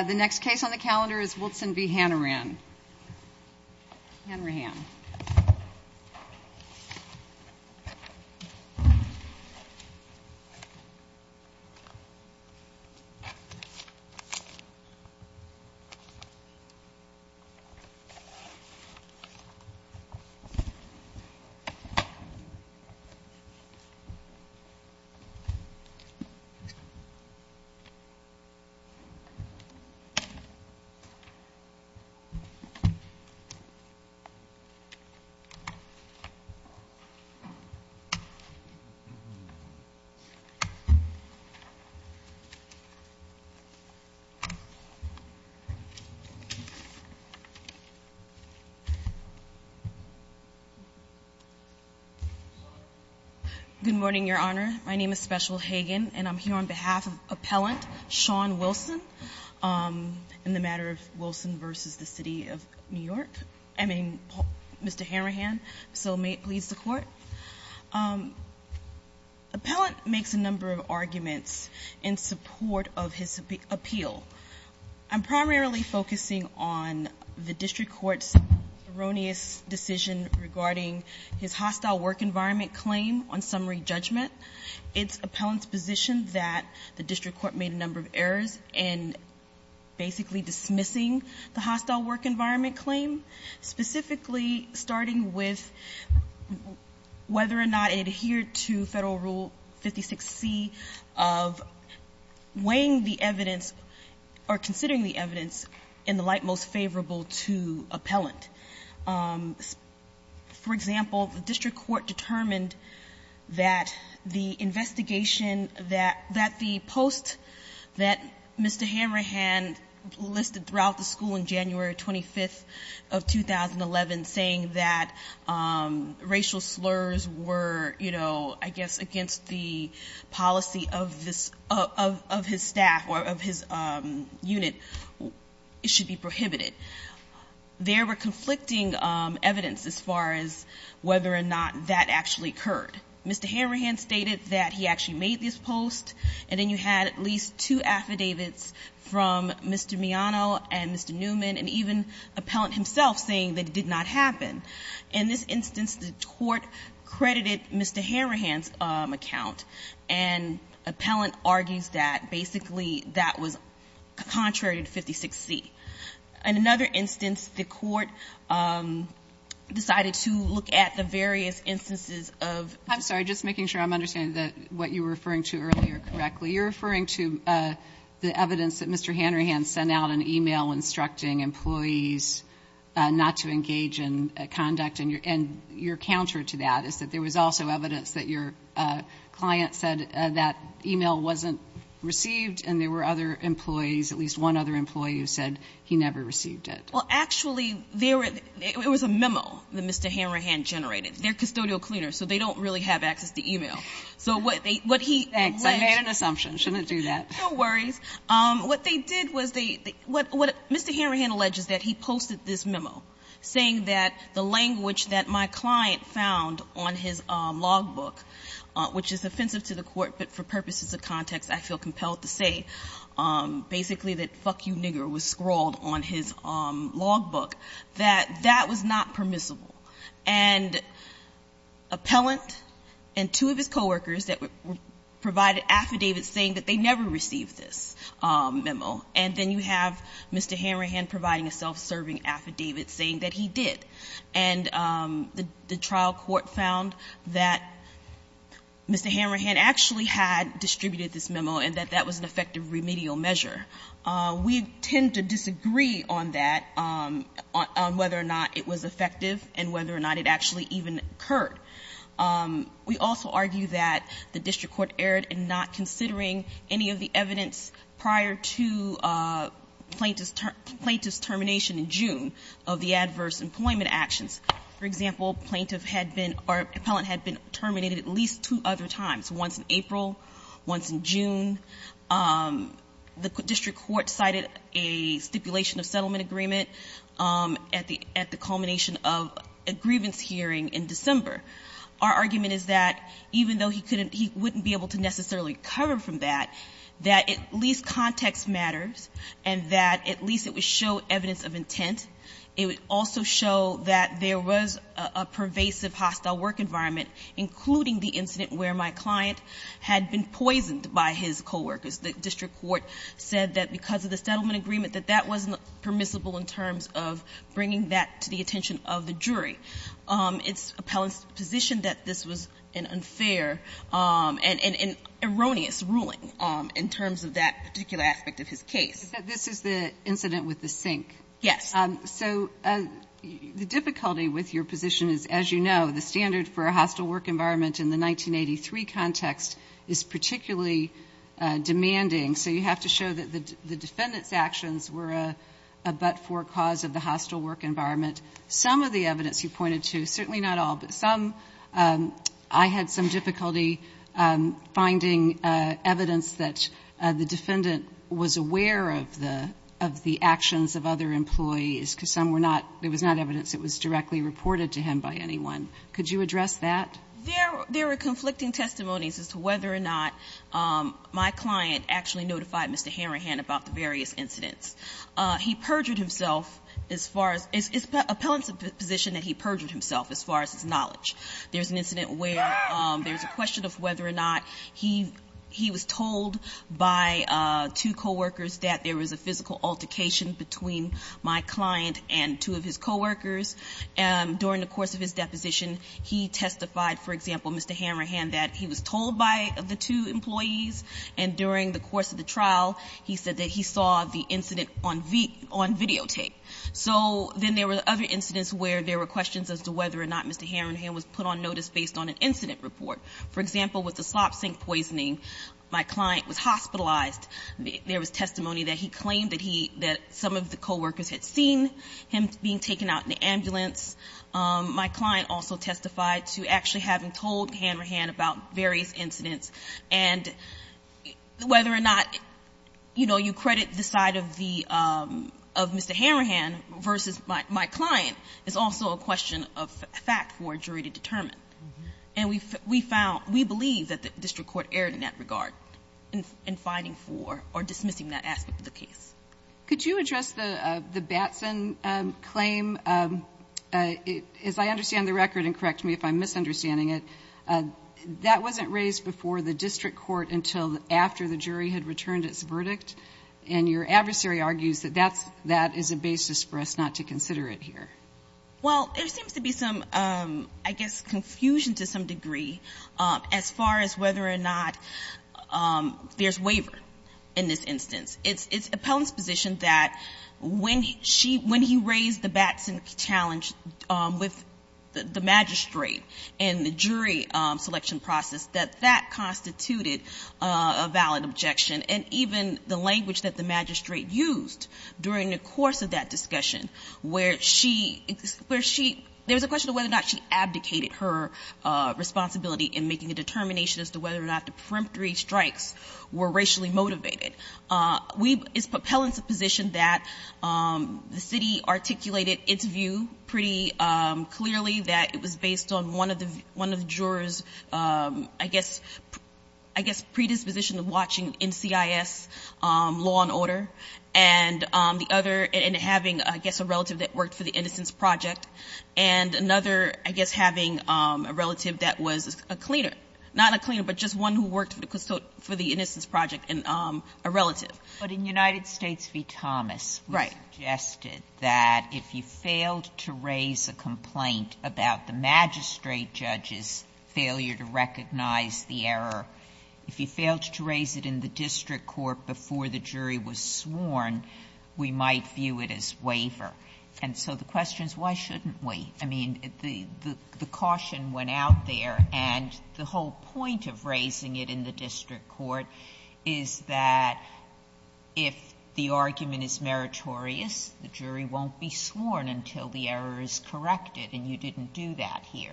The next case on the calendar is Wilson v. Hanrahan. Good morning, Your Honor. My name is Special Hagan, and I'm here on behalf of Appellant Sean Wilson in the matter of Wilson v. The City of New York. I mean, Mr. Hanrahan. So may it please the Court. Appellant makes a number of arguments in support of his appeal. I'm primarily focusing on the district court's erroneous decision regarding his hostile work environment claim on summary judgment. It's Appellant's position that the district court made a number of errors in basically dismissing the hostile work environment claim, specifically starting with whether or not it adhered to Federal Rule 56C of weighing the evidence or considering the evidence in the light most favorable to Appellant. For example, the district court determined that the investigation that the post that Mr. Hanrahan listed throughout the school in January 25th of 2011 saying that racial slurs were, you know, I guess against the policy of his staff or of his unit, it should be prohibited. There were conflicting evidence as far as whether or not that actually occurred. Mr. Hanrahan stated that he actually made this post, and then you had at least two affidavits from Mr. Miano and Mr. Newman and even Appellant himself saying that it did not happen. In this instance, the court credited Mr. Hanrahan's account, and Appellant argues that basically that was contrary to 56C. In another instance, the court decided to look at the various instances of. I'm sorry, just making sure I'm understanding what you were referring to earlier correctly. You're referring to the evidence that Mr. Hanrahan sent out an email instructing employees not to engage in conduct, and your counter to that is that there was also evidence that your client said that email wasn't received, and there were other employees, at least one other employee, who said he never received it. Well, actually, it was a memo that Mr. Hanrahan generated. They're custodial cleaners, so they don't really have access to email. So what he alleged. Thanks. I made an assumption. I shouldn't do that. No worries. What they did was they Mr. Hanrahan alleges that he posted this memo saying that the language that my client found on his logbook, which is offensive to the court, but for purposes of context, I feel compelled to say, basically, that fuck you nigger was scrawled on his logbook, that that was not permissible. And appellant and two of his coworkers provided affidavits saying that they never received this memo. And then you have Mr. Hanrahan providing a self-serving affidavit saying that he did. And the trial court found that Mr. Hanrahan actually had distributed this memo and that that was an effective remedial measure. We tend to disagree on that, on whether or not it was effective and whether or not it actually even occurred. We also argue that the district court erred in not considering any of the evidence prior to plaintiff's termination in June of the adverse employment actions. For example, plaintiff had been or appellant had been terminated at least two other times, once in April, once in June. The district court cited a stipulation of settlement agreement at the culmination of a grievance hearing in December. Our argument is that even though he couldn't, he wouldn't be able to necessarily recover from that, that at least context matters and that at least it would show evidence of intent. It would also show that there was a pervasive hostile work environment, including the incident where my client had been poisoned by his coworkers. The district court said that because of the settlement agreement that that wasn't permissible in terms of bringing that to the attention of the jury. It's appellant's position that this was an unfair and erroneous ruling in terms of that particular aspect of his case. But this is the incident with the sink. Yes. So the difficulty with your position is, as you know, the standard for a hostile work environment in the 1983 context is particularly demanding. So you have to show that the defendant's actions were a but-for cause of the hostile work environment. Some of the evidence you pointed to, certainly not all, but some, I had some difficulty finding evidence that the defendant was aware of the actions of other employees because some were not, it was not evidence that was directly reported to him by anyone. Could you address that? There were conflicting testimonies as to whether or not my client actually notified Mr. Appellant's position that he perjured himself as far as his knowledge. There's an incident where there's a question of whether or not he was told by two coworkers that there was a physical altercation between my client and two of his coworkers. During the course of his deposition, he testified, for example, Mr. Hammerhand, that he was told by the two employees, and during the course of the trial, he said that he saw the incident on videotape. So then there were other incidents where there were questions as to whether or not Mr. Hammerhand was put on notice based on an incident report. For example, with the slop sink poisoning, my client was hospitalized. There was testimony that he claimed that he, that some of the coworkers had seen him being taken out in the ambulance. My client also testified to actually having told Hammerhand about various incidents, and whether or not, you know, you credit the side of the, of Mr. Hammerhand versus my client is also a question of fact for a jury to determine. And we found, we believe that the district court erred in that regard in finding for or dismissing that aspect of the case. Could you address the Batson claim? As I understand the record, and correct me if I'm misunderstanding it, that wasn't raised before the district court until after the jury had returned its verdict, and your adversary argues that that's, that is a basis for us not to consider it here. Well, there seems to be some, I guess, confusion to some degree as far as whether or not there's waiver in this instance. It's Appellant's position that when she, when he raised the Batson challenge with the magistrate and the jury selection process, that that constituted a valid objection. And even the language that the magistrate used during the course of that discussion, where she, where she, there was a question of whether or not she abdicated her responsibility in making a determination as to whether or not the preemptory strikes were racially motivated. We, it's Appellant's position that the city articulated its view pretty clearly, that it was based on one of the jurors, I guess, I guess predisposition of watching NCIS law and order, and the other, and having, I guess, a relative that worked for the Innocence Project, and another, I guess, having a relative that was a cleaner. Not a cleaner, but just one who worked for the Innocence Project and a relative. But in United States v. Thomas, we suggested that if you failed to raise a complaint about the magistrate judge's failure to recognize the error, if you failed to raise it in the district court before the jury was sworn, we might view it as waiver. And so the question is, why shouldn't we? I mean, the caution went out there, and the whole point of raising it in the district court is that if the argument is meritorious, the jury won't be sworn until the error is corrected, and you didn't do that here.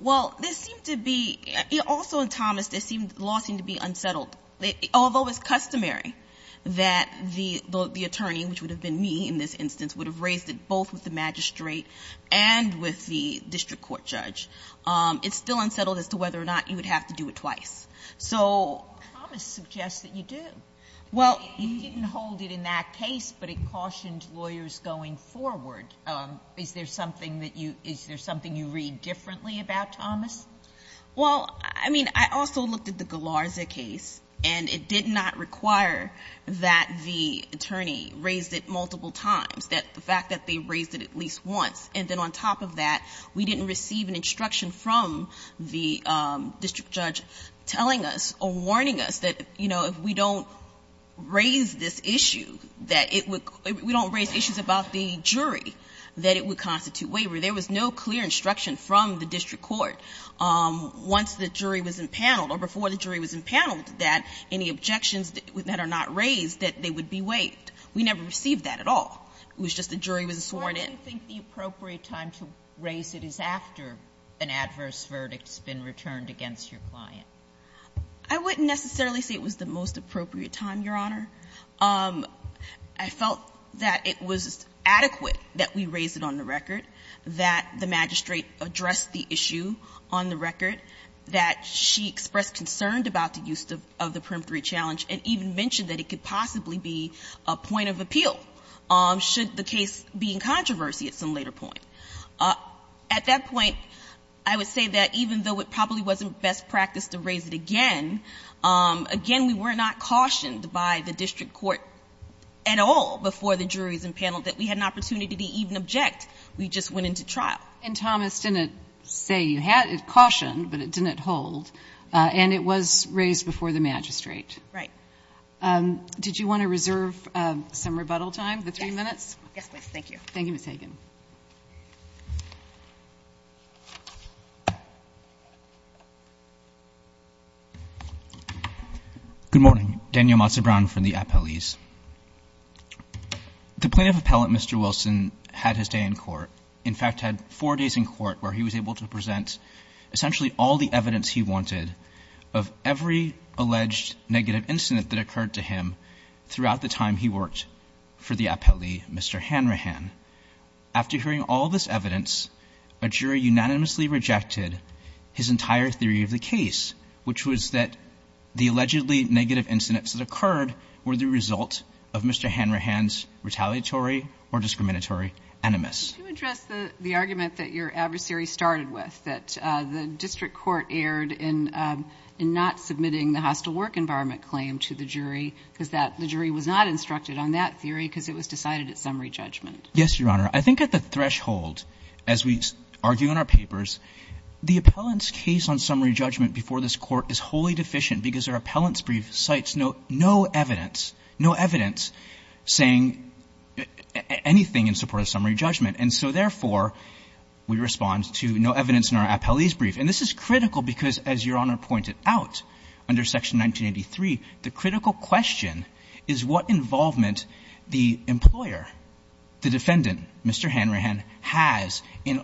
Well, there seemed to be, also in Thomas, there seemed, the law seemed to be unsettled. Although it's customary that the attorney, which would have been me in this instance, would have raised it both with the magistrate and with the district court judge, it's still unsettled as to whether or not you would have to do it twice. So Thomas suggests that you do. Well, you didn't hold it in that case, but it cautioned lawyers going forward. Is there something that you, is there something you read differently about Thomas? Well, I mean, I also looked at the Galarza case, and it did not require that the attorney raise it multiple times, the fact that they raised it at least once. And then on top of that, we didn't receive an instruction from the district judge telling us or warning us that, you know, if we don't raise this issue, that it would, if we don't raise issues about the jury, that it would constitute waiver. There was no clear instruction from the district court once the jury was impaneled or before the jury was impaneled that any objections that are not raised, that they would be waived. We never received that at all. It was just the jury was sworn in. Why do you think the appropriate time to raise it is after an adverse verdict has been returned against your client? I wouldn't necessarily say it was the most appropriate time, Your Honor. I felt that it was adequate that we raise it on the record. That the magistrate addressed the issue on the record. That she expressed concern about the use of the preemptory challenge and even mentioned that it could possibly be a point of appeal should the case be in controversy at some later point. At that point, I would say that even though it probably wasn't best practice to raise it again, again, we were not cautioned by the district court at all before the jury was impaneled that we had an opportunity to even object. We just went into trial. And Thomas didn't say you had it cautioned, but it didn't hold. And it was raised before the magistrate. Right. Did you want to reserve some rebuttal time, the three minutes? Yes, please. Thank you. Thank you, Ms. Hagan. Good morning. Daniel Mazzabrano from the appellees. The plaintiff appellant, Mr. Wilson, had his day in court. In fact, had four days in court where he was able to present essentially all the evidence he wanted of every alleged negative incident that occurred to him throughout the time he worked for the appellee, Mr. Hanrahan. After hearing all this evidence, a jury unanimously rejected his entire theory of the fault of Mr. Hanrahan's retaliatory or discriminatory enemas. Could you address the argument that your adversary started with, that the district court erred in not submitting the hostile work environment claim to the jury because the jury was not instructed on that theory because it was decided at summary judgment? Yes, Your Honor. I think at the threshold, as we argue in our papers, the appellant's case on summary judgment has no evidence saying anything in support of summary judgment. And so, therefore, we respond to no evidence in our appellee's brief. And this is critical because, as Your Honor pointed out under Section 1983, the critical question is what involvement the employer, the defendant, Mr. Hanrahan, has in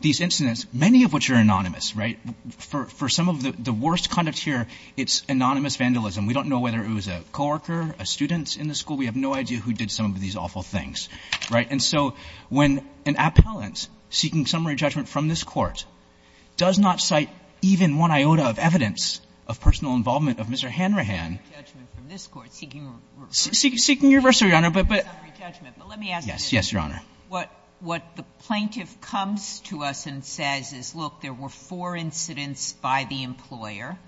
these incidents, many of which are anonymous, right? For some of the worst conduct here, it's anonymous vandalism. We don't know whether it was a co-worker, a student in the school. We have no idea who did some of these awful things, right? And so when an appellant seeking summary judgment from this Court does not cite even one iota of evidence of personal involvement of Mr. Hanrahan. Seeking reversal, Your Honor, but let me ask you this. Yes, Your Honor. What the plaintiff comes to us and says is, look, there were four incidents by the employer.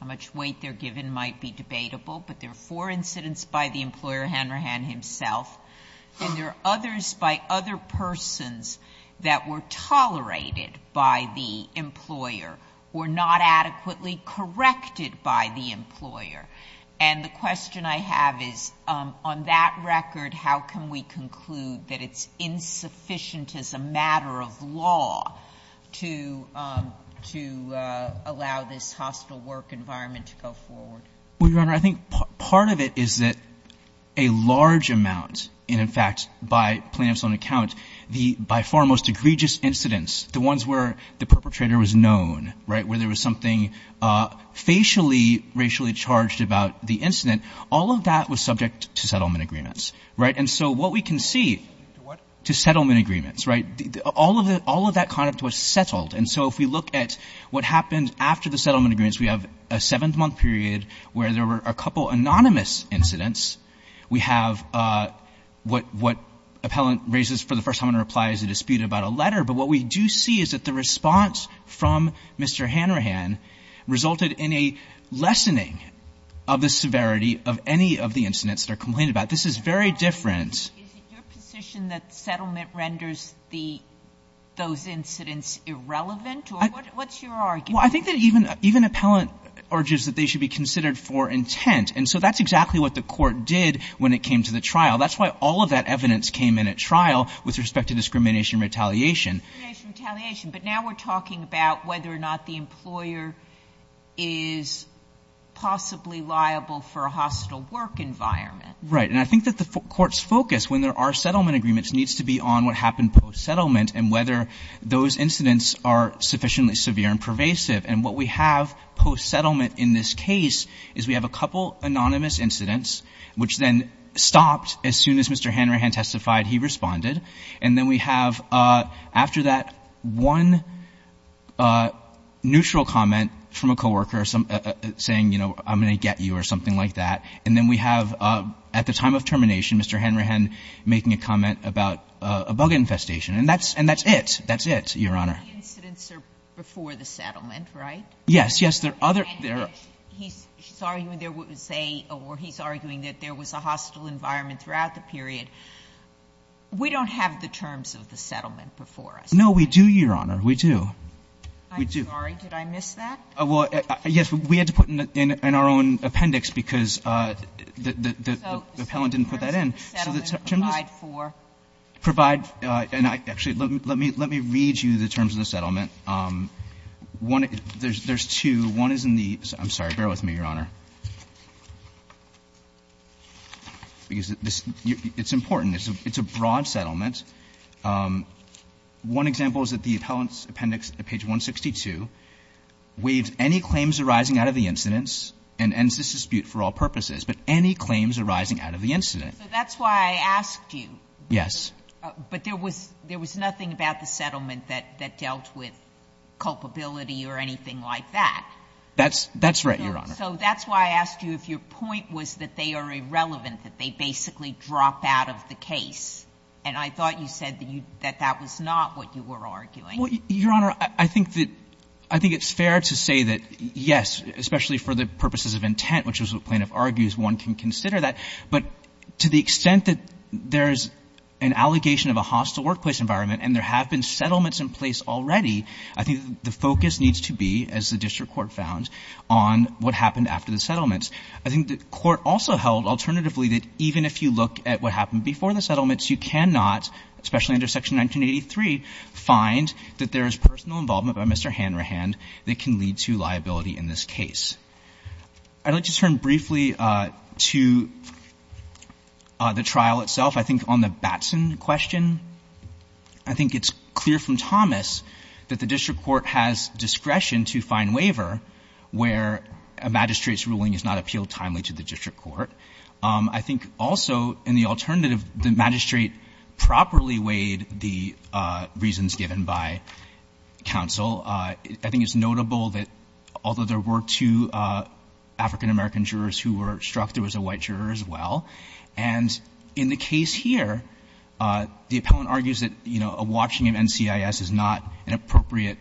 How much weight they're given might be debatable, but there were four incidents by the employer, Hanrahan himself. And there are others by other persons that were tolerated by the employer or not adequately corrected by the employer. And the question I have is, on that record, how can we conclude that it's insufficient as a matter of law to allow this hostile work environment to go forward? Well, Your Honor, I think part of it is that a large amount, and in fact, by plaintiff's own account, the by far most egregious incidents, the ones where the perpetrator was known, right, where there was something facially, racially charged about the incident, all of that was subject to settlement agreements, right? And so what we can see to settlement agreements, right, all of that conduct was settled. And so if we look at what happened after the settlement agreements, we have a seventh-month period where there were a couple anonymous incidents. We have what appellant raises for the first time in a reply is a dispute about a letter. But what we do see is that the response from Mr. Hanrahan resulted in a lessening of the severity of any of the incidents that are complained about. This is very different. Is it your position that settlement renders those incidents irrelevant? Or what's your argument? Well, I think that even appellant urges that they should be considered for intent. And so that's exactly what the court did when it came to the trial. That's why all of that evidence came in at trial with respect to discrimination and retaliation. Discrimination and retaliation. But now we're talking about whether or not the employer is possibly liable for a hostile work environment. Right. And I think that the court's focus, when there are settlement agreements, needs to be on what happened post-settlement and whether those incidents are sufficiently severe and pervasive. And what we have post-settlement in this case is we have a couple anonymous incidents, which then stopped as soon as Mr. Hanrahan testified he responded. And then we have, after that, one neutral comment from a co-worker saying, you know, I'm going to get you or something like that. And then we have at the time of termination, Mr. Hanrahan making a comment about a bug infestation. And that's it. That's it, Your Honor. The incidents are before the settlement, right? Yes. Yes. There are other. He's arguing there was a or he's arguing that there was a hostile environment throughout the period. We don't have the terms of the settlement before us. No, we do, Your Honor. We do. I'm sorry. Did I miss that? Well, yes. We had to put in our own appendix because the appellant didn't put that in. So the terms of the settlement provide for? Provide. And actually, let me read you the terms of the settlement. There's two. One is in the – I'm sorry. Bear with me, Your Honor. Because it's important. It's a broad settlement. One example is that the appellant's appendix at page 162 waives any claims arising out of the incidents and ends this dispute for all purposes, but any claims arising out of the incident. So that's why I asked you. Yes. But there was nothing about the settlement that dealt with culpability or anything like that. That's right, Your Honor. So that's why I asked you if your point was that they are irrelevant, that they basically drop out of the case. And I thought you said that that was not what you were arguing. Well, Your Honor, I think it's fair to say that, yes, especially for the purposes of intent, which is what plaintiff argues, one can consider that. But to the extent that there's an allegation of a hostile workplace environment and there have been settlements in place already, I think the focus needs to be, as the district court found, on what happened after the settlements. I think the court also held, alternatively, that even if you look at what happened before the settlements, you cannot, especially under Section 1983, find that there is personal involvement by Mr. Hanrahan that can lead to liability in this case. I'd like to turn briefly to the trial itself. I think on the Batson question, I think it's clear from Thomas that the district court has discretion to find waiver where a magistrate's ruling is not appealed timely to the district court. I think also in the alternative, the magistrate properly weighed the reasons given by counsel. I think it's notable that although there were two African-American jurors who were struck, there was a white juror as well. And in the case here, the appellant argues that, you know, a watching of NCIS is not an appropriate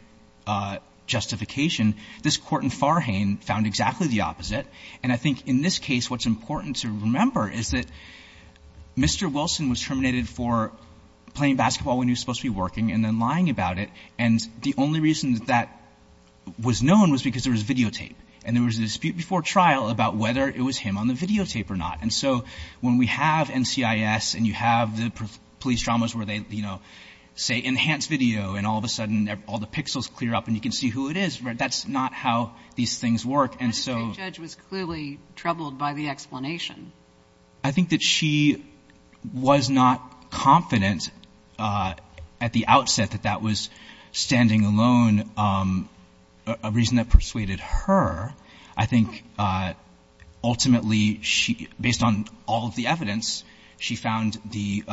justification. This Court in Farhane found exactly the opposite. And I think in this case, what's important to remember is that Mr. Wilson was terminated for playing basketball when he was supposed to be working and then lying about it. And the only reason that that was known was because there was videotape and there was a dispute before trial about whether it was him on the videotape or not. And so when we have NCIS and you have the police dramas where they, you know, say enhanced video and all of a sudden all the pixels clear up and you can see who it is, that's not how these things work. And so the judge was clearly troubled by the explanation. I think that she was not confident at the outset that that was standing alone, a reason that persuaded her. I think ultimately she, based on all of the evidence, she found the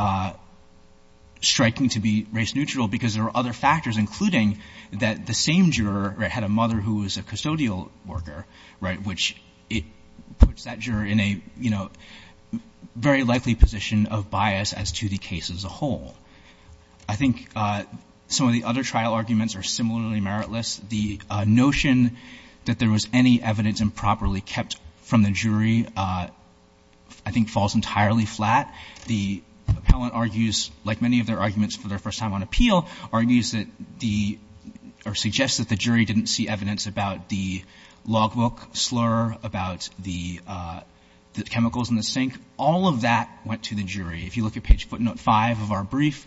striking to be race neutral because there were other factors, including that the same juror had a mother who was a custodial worker, right, which puts that juror in a, you know, very likely position of bias as to the case as a whole. I think some of the other trial arguments are similarly meritless. The notion that there was any evidence improperly kept from the jury, I think, falls entirely flat. The appellant argues, like many of their arguments for their first time on appeal, argues that the, or suggests that the jury didn't see evidence about the logbook slur, about the chemicals in the sink. All of that went to the jury. If you look at page footnote five of our brief,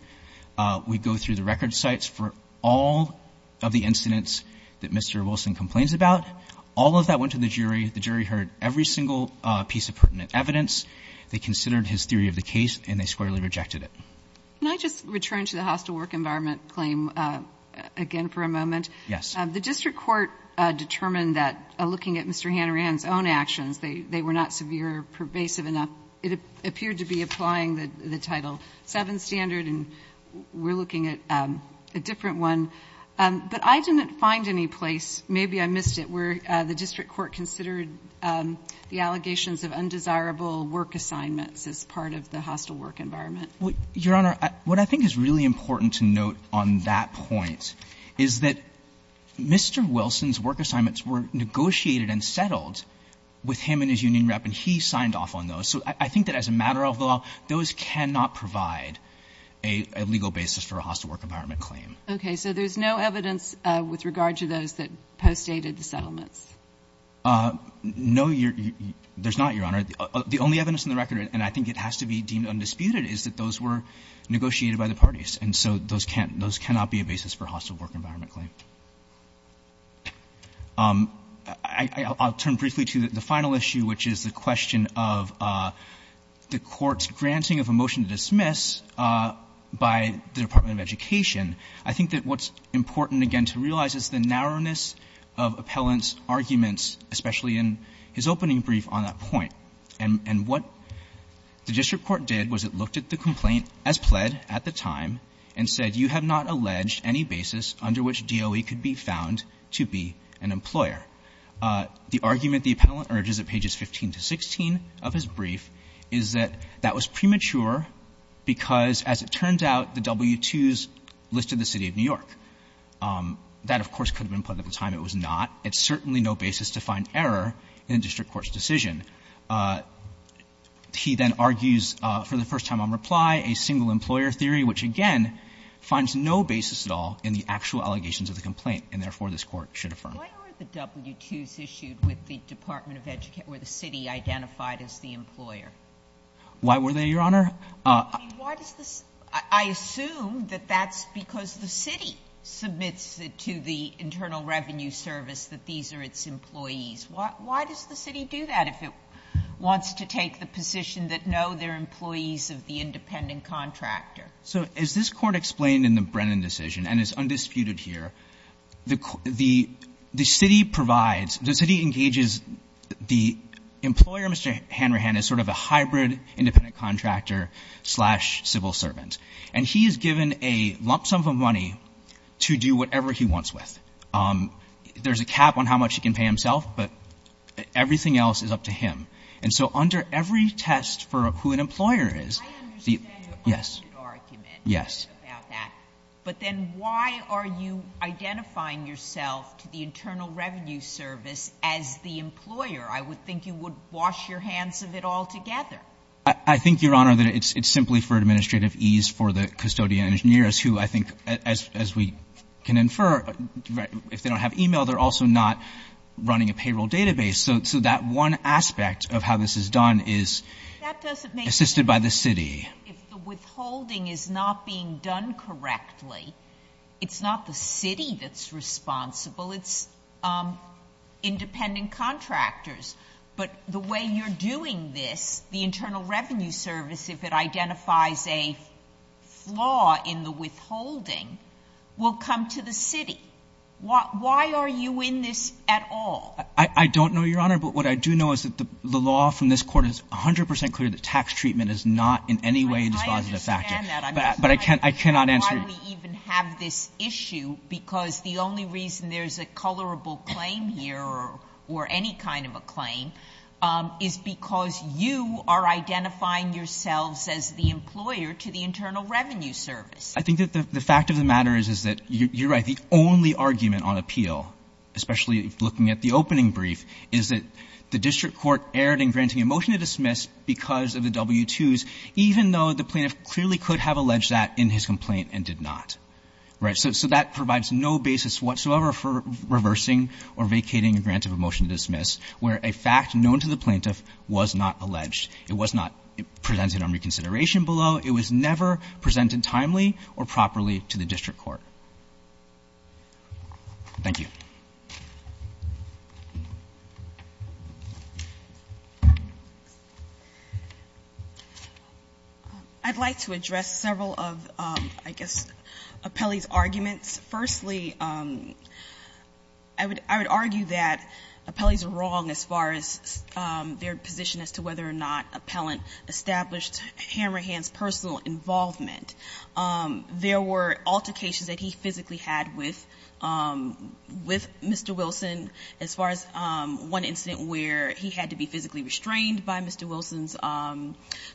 we go through the record sites for all of the incidents that Mr. Wilson complains about. All of that went to the jury. The jury heard every single piece of pertinent evidence. They considered his theory of the case and they squarely rejected it. Can I just return to the hostile work environment claim again for a moment? Yes. The district court determined that, looking at Mr. Hanrahan's own actions, they were not severe or pervasive enough. It appeared to be applying the Title VII standard, and we're looking at a different one. But I didn't find any place, maybe I missed it, where the district court considered the allegations of undesirable work assignments as part of the hostile work environment. Your Honor, what I think is really important to note on that point is that Mr. Wilson's work assignments were negotiated and settled with him and his union rep, and he signed off on those. So I think that as a matter of law, those cannot provide a legal basis for a hostile work environment claim. Okay. So there's no evidence with regard to those that postdated the settlements? No, there's not, Your Honor. The only evidence on the record, and I think it has to be deemed undisputed, is that those were negotiated by the parties. And so those can't be a basis for a hostile work environment claim. I'll turn briefly to the final issue, which is the question of the Court's granting of a motion to dismiss by the Department of Education. I think that what's important, again, to realize is the narrowness of Appellant's arguments, especially in his opening brief on that point. And what the district court did was it looked at the complaint as pled at the time and said, you have not alleged any basis under which DOE could be found to be an employer. The argument the Appellant urges at pages 15 to 16 of his brief is that that was premature because, as it turns out, the W-2s listed the City of New York. That, of course, could have been pled at the time. It was not. It's certainly no basis to find error in a district court's decision. He then argues, for the first time on reply, a single-employer theory, which, again, finds no basis at all in the actual allegations of the complaint, and therefore this Court should affirm. Why were the W-2s issued with the Department of Education, where the city identified as the employer? Why were they, Your Honor? I assume that that's because the city submits it to the Internal Revenue Service that these are its employees. Why does the city do that if it wants to take the position that, no, they're employees of the independent contractor? So as this Court explained in the Brennan decision and is undisputed here, the city provides, the city engages the employer, Mr. Hanrahan, as sort of a hybrid independent contractor-slash-civil servant. And he is given a lump sum of money to do whatever he wants with. There's a cap on how much he can pay himself, but everything else is up to him. And so under every test for who an employer is, the — I understand your argument. Yes. Yes. About that. But then why are you identifying yourself to the Internal Revenue Service as the employer? I would think you would wash your hands of it altogether. I think, Your Honor, that it's simply for administrative ease for the custodian and engineers who, I think, as we can infer, if they don't have e-mail, they're also not running a payroll database. So that one aspect of how this is done is assisted by the city. That doesn't make sense. If the withholding is not being done correctly, it's not the city that's responsible. It's independent contractors. But the way you're doing this, the Internal Revenue Service, if it identifies a flaw in the withholding, will come to the city. Why are you in this at all? I don't know, Your Honor, but what I do know is that the law from this Court is 100 percent clear that tax treatment is not in any way a dispositive factor. I understand that. But I cannot answer you. I'm just trying to understand why we even have this issue, because the only reason there's a colorable claim here or any kind of a claim is because you are identifying yourselves as the employer to the Internal Revenue Service. I think that the fact of the matter is that you're right. The only argument on appeal, especially looking at the opening brief, is that the district court erred in granting a motion to dismiss because of the W-2s, even though the plaintiff clearly could have alleged that in his complaint and did not. Right. So that provides no basis whatsoever for reversing or vacating a grant of a motion to dismiss where a fact known to the plaintiff was not alleged. It was not presented on reconsideration below. It was never presented timely or properly to the district court. Thank you. I'd like to address several of, I guess, Appellee's arguments. Firstly, I would argue that Appellee's are wrong as far as their position as to whether or not Appellant established Hammerhand's personal involvement. There were altercations that he physically had with Mr. Wilson as far as one incident where he had to be physically restrained by Mr. Wilson's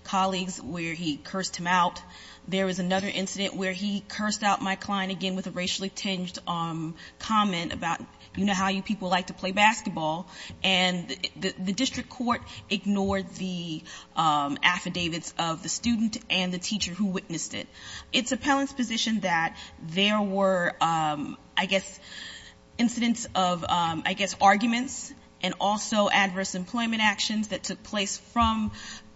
colleagues, where he cursed him out. There was another incident where he cursed out my client again with a racially tinged comment about, you know how you people like to play basketball. And the district court ignored the affidavits of the student and the teacher who witnessed it. It's Appellant's position that there were, I guess, incidents of, I guess, arguments and also adverse employment actions that took place from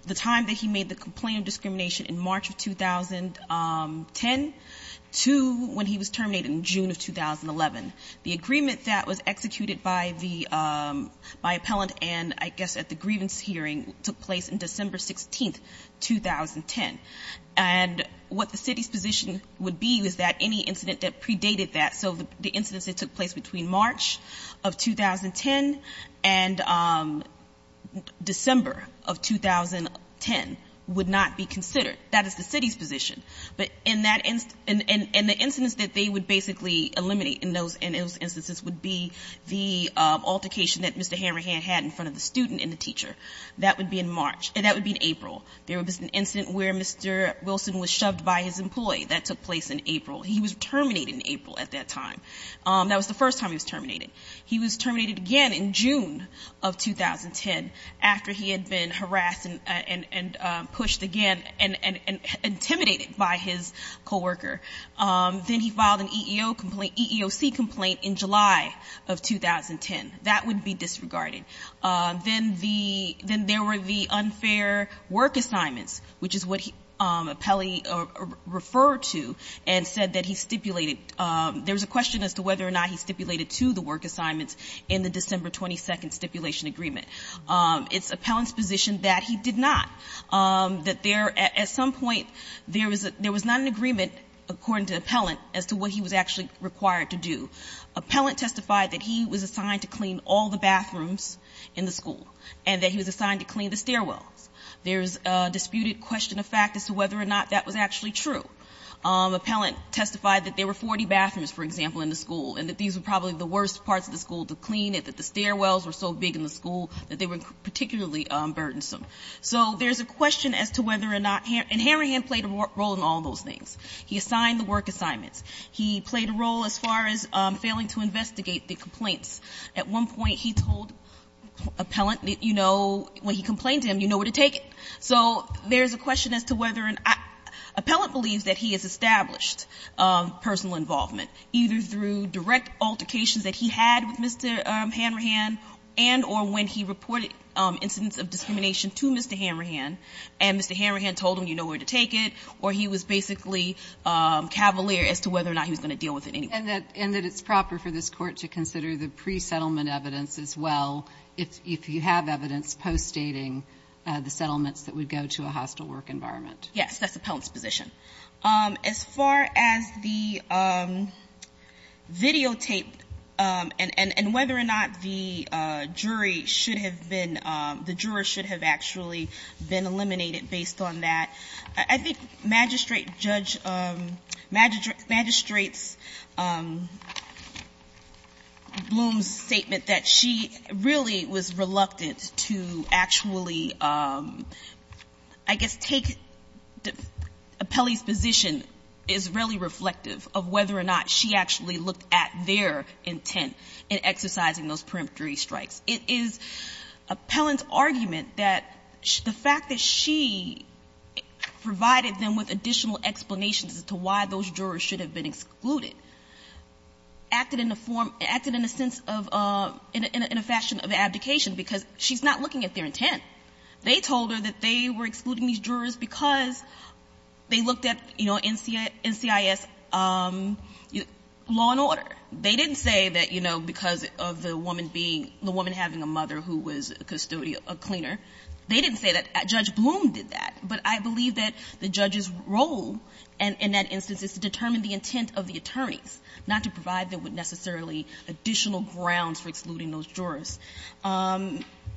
the time that he made the complaint of discrimination in March of 2010 to when he was terminated in June of 2011. The agreement that was executed by Appellant and, I guess, at the grievance hearing took place in December 16th, 2010. And what the city's position would be is that any incident that predated that, so the incidents that took place between March of 2010 and December of 2010 would not be considered. That is the city's position. But in that instance, and the incidents that they would basically eliminate in those instances would be the altercation that Mr. Hammerhand had in front of the student and the teacher. That would be in April. There was an incident where Mr. Wilson was shoved by his employee. That took place in April. He was terminated in April at that time. That was the first time he was terminated. He was terminated again in June of 2010 after he had been harassed and pushed again and intimidated by his coworker. Then he filed an EEO complaint, EEOC complaint in July of 2010. That would be disregarded. Then there were the unfair work assignments, which is what Appellee referred to and said that he stipulated. There was a question as to whether or not he stipulated to the work assignments in the December 22nd stipulation agreement. It's Appellant's position that he did not, that there at some point there was not an agreement, according to Appellant, as to what he was actually required to do. Appellant testified that he was assigned to clean all the bathrooms in the school, and that he was assigned to clean the stairwells. There's a disputed question of fact as to whether or not that was actually true. Appellant testified that there were 40 bathrooms, for example, in the school and that these were probably the worst parts of the school to clean and that the stairwells were so big in the school that they were particularly burdensome. So there's a question as to whether or not, and Hanrahan played a role in all those things. He assigned the work assignments. He played a role as far as failing to investigate the complaints. At one point he told Appellant, you know, when he complained to him, you know where to take it. So there's a question as to whether, Appellant believes that he has established personal involvement, either through direct altercations that he had with Mr. Hanrahan and or when he reported incidents of discrimination to Mr. Hanrahan, and Mr. Hanrahan told him, you know where to take it, or he was basically cavalier as to whether or not he was going to deal with it anyway. And that it's proper for this Court to consider the pre-settlement evidence as well, if you have evidence postdating the settlements that would go to a hostile work environment. Yes. That's Appellant's position. As far as the videotape and whether or not the jury should have been, the juror should have actually been eliminated based on that, I think Magistrate Judge, Magistrate Bloom's statement that she really was reluctant to actually, I guess, take Appellant's position is really reflective of whether or not she actually looked at their intent in exercising those preemptory strikes. It is Appellant's argument that the fact that she provided them with additional explanations as to why those jurors should have been excluded, acted in a form, acted in a sense of, in a fashion of abdication, because she's not looking at their intent. They told her that they were excluding these jurors because they looked at, you know, NCIS law and order. They didn't say that, you know, because of the woman being, the woman having a mother who was a custodian, a cleaner. They didn't say that. Judge Bloom did that. But I believe that the judge's role in that instance is to determine the intent of the attorneys, not to provide them with necessarily additional grounds for excluding those jurors.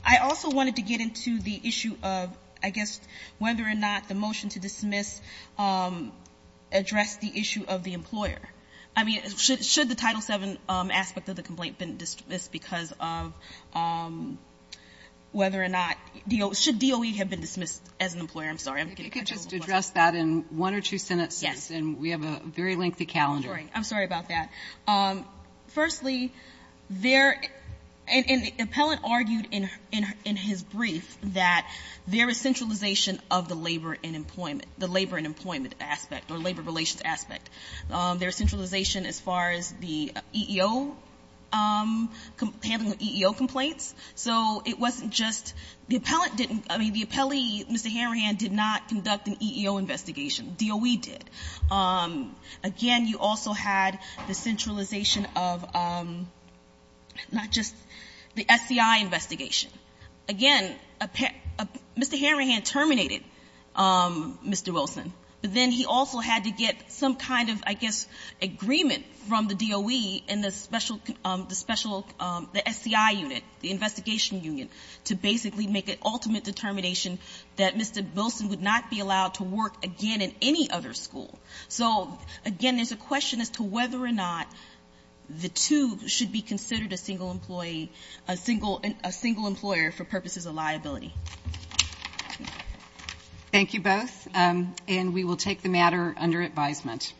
I also wanted to get into the issue of, I guess, whether or not the motion to dismiss addressed the issue of the employer. I mean, should the Title VII aspect of the complaint been dismissed because of whether or not DOE, should DOE have been dismissed as an employer? I'm sorry. I'm getting my job. I think it's addressed that in one or two sentences. Yes. And we have a very lengthy calendar. I'm sorry. I'm sorry about that. Firstly, there, and the appellant argued in his brief that there is centralization of the labor and employment, the labor and employment aspect or labor relations aspect. There is centralization as far as the EEO, handling the EEO complaints. So it wasn't just, the appellant didn't, I mean, the appellee, Mr. Hanrahan, did not conduct an EEO investigation. DOE did. Again, you also had the centralization of not just the SCI investigation. Again, Mr. Hanrahan terminated Mr. Wilson, but then he also had to get some kind of, I guess, agreement from the DOE and the special, the SCI unit, the investigation union, to basically make an ultimate determination that Mr. Wilson would not be allowed to work again in any other school. So, again, there's a question as to whether or not the two should be considered a single employee, a single employer for purposes of liability. Thank you both, and we will take the matter under advisement.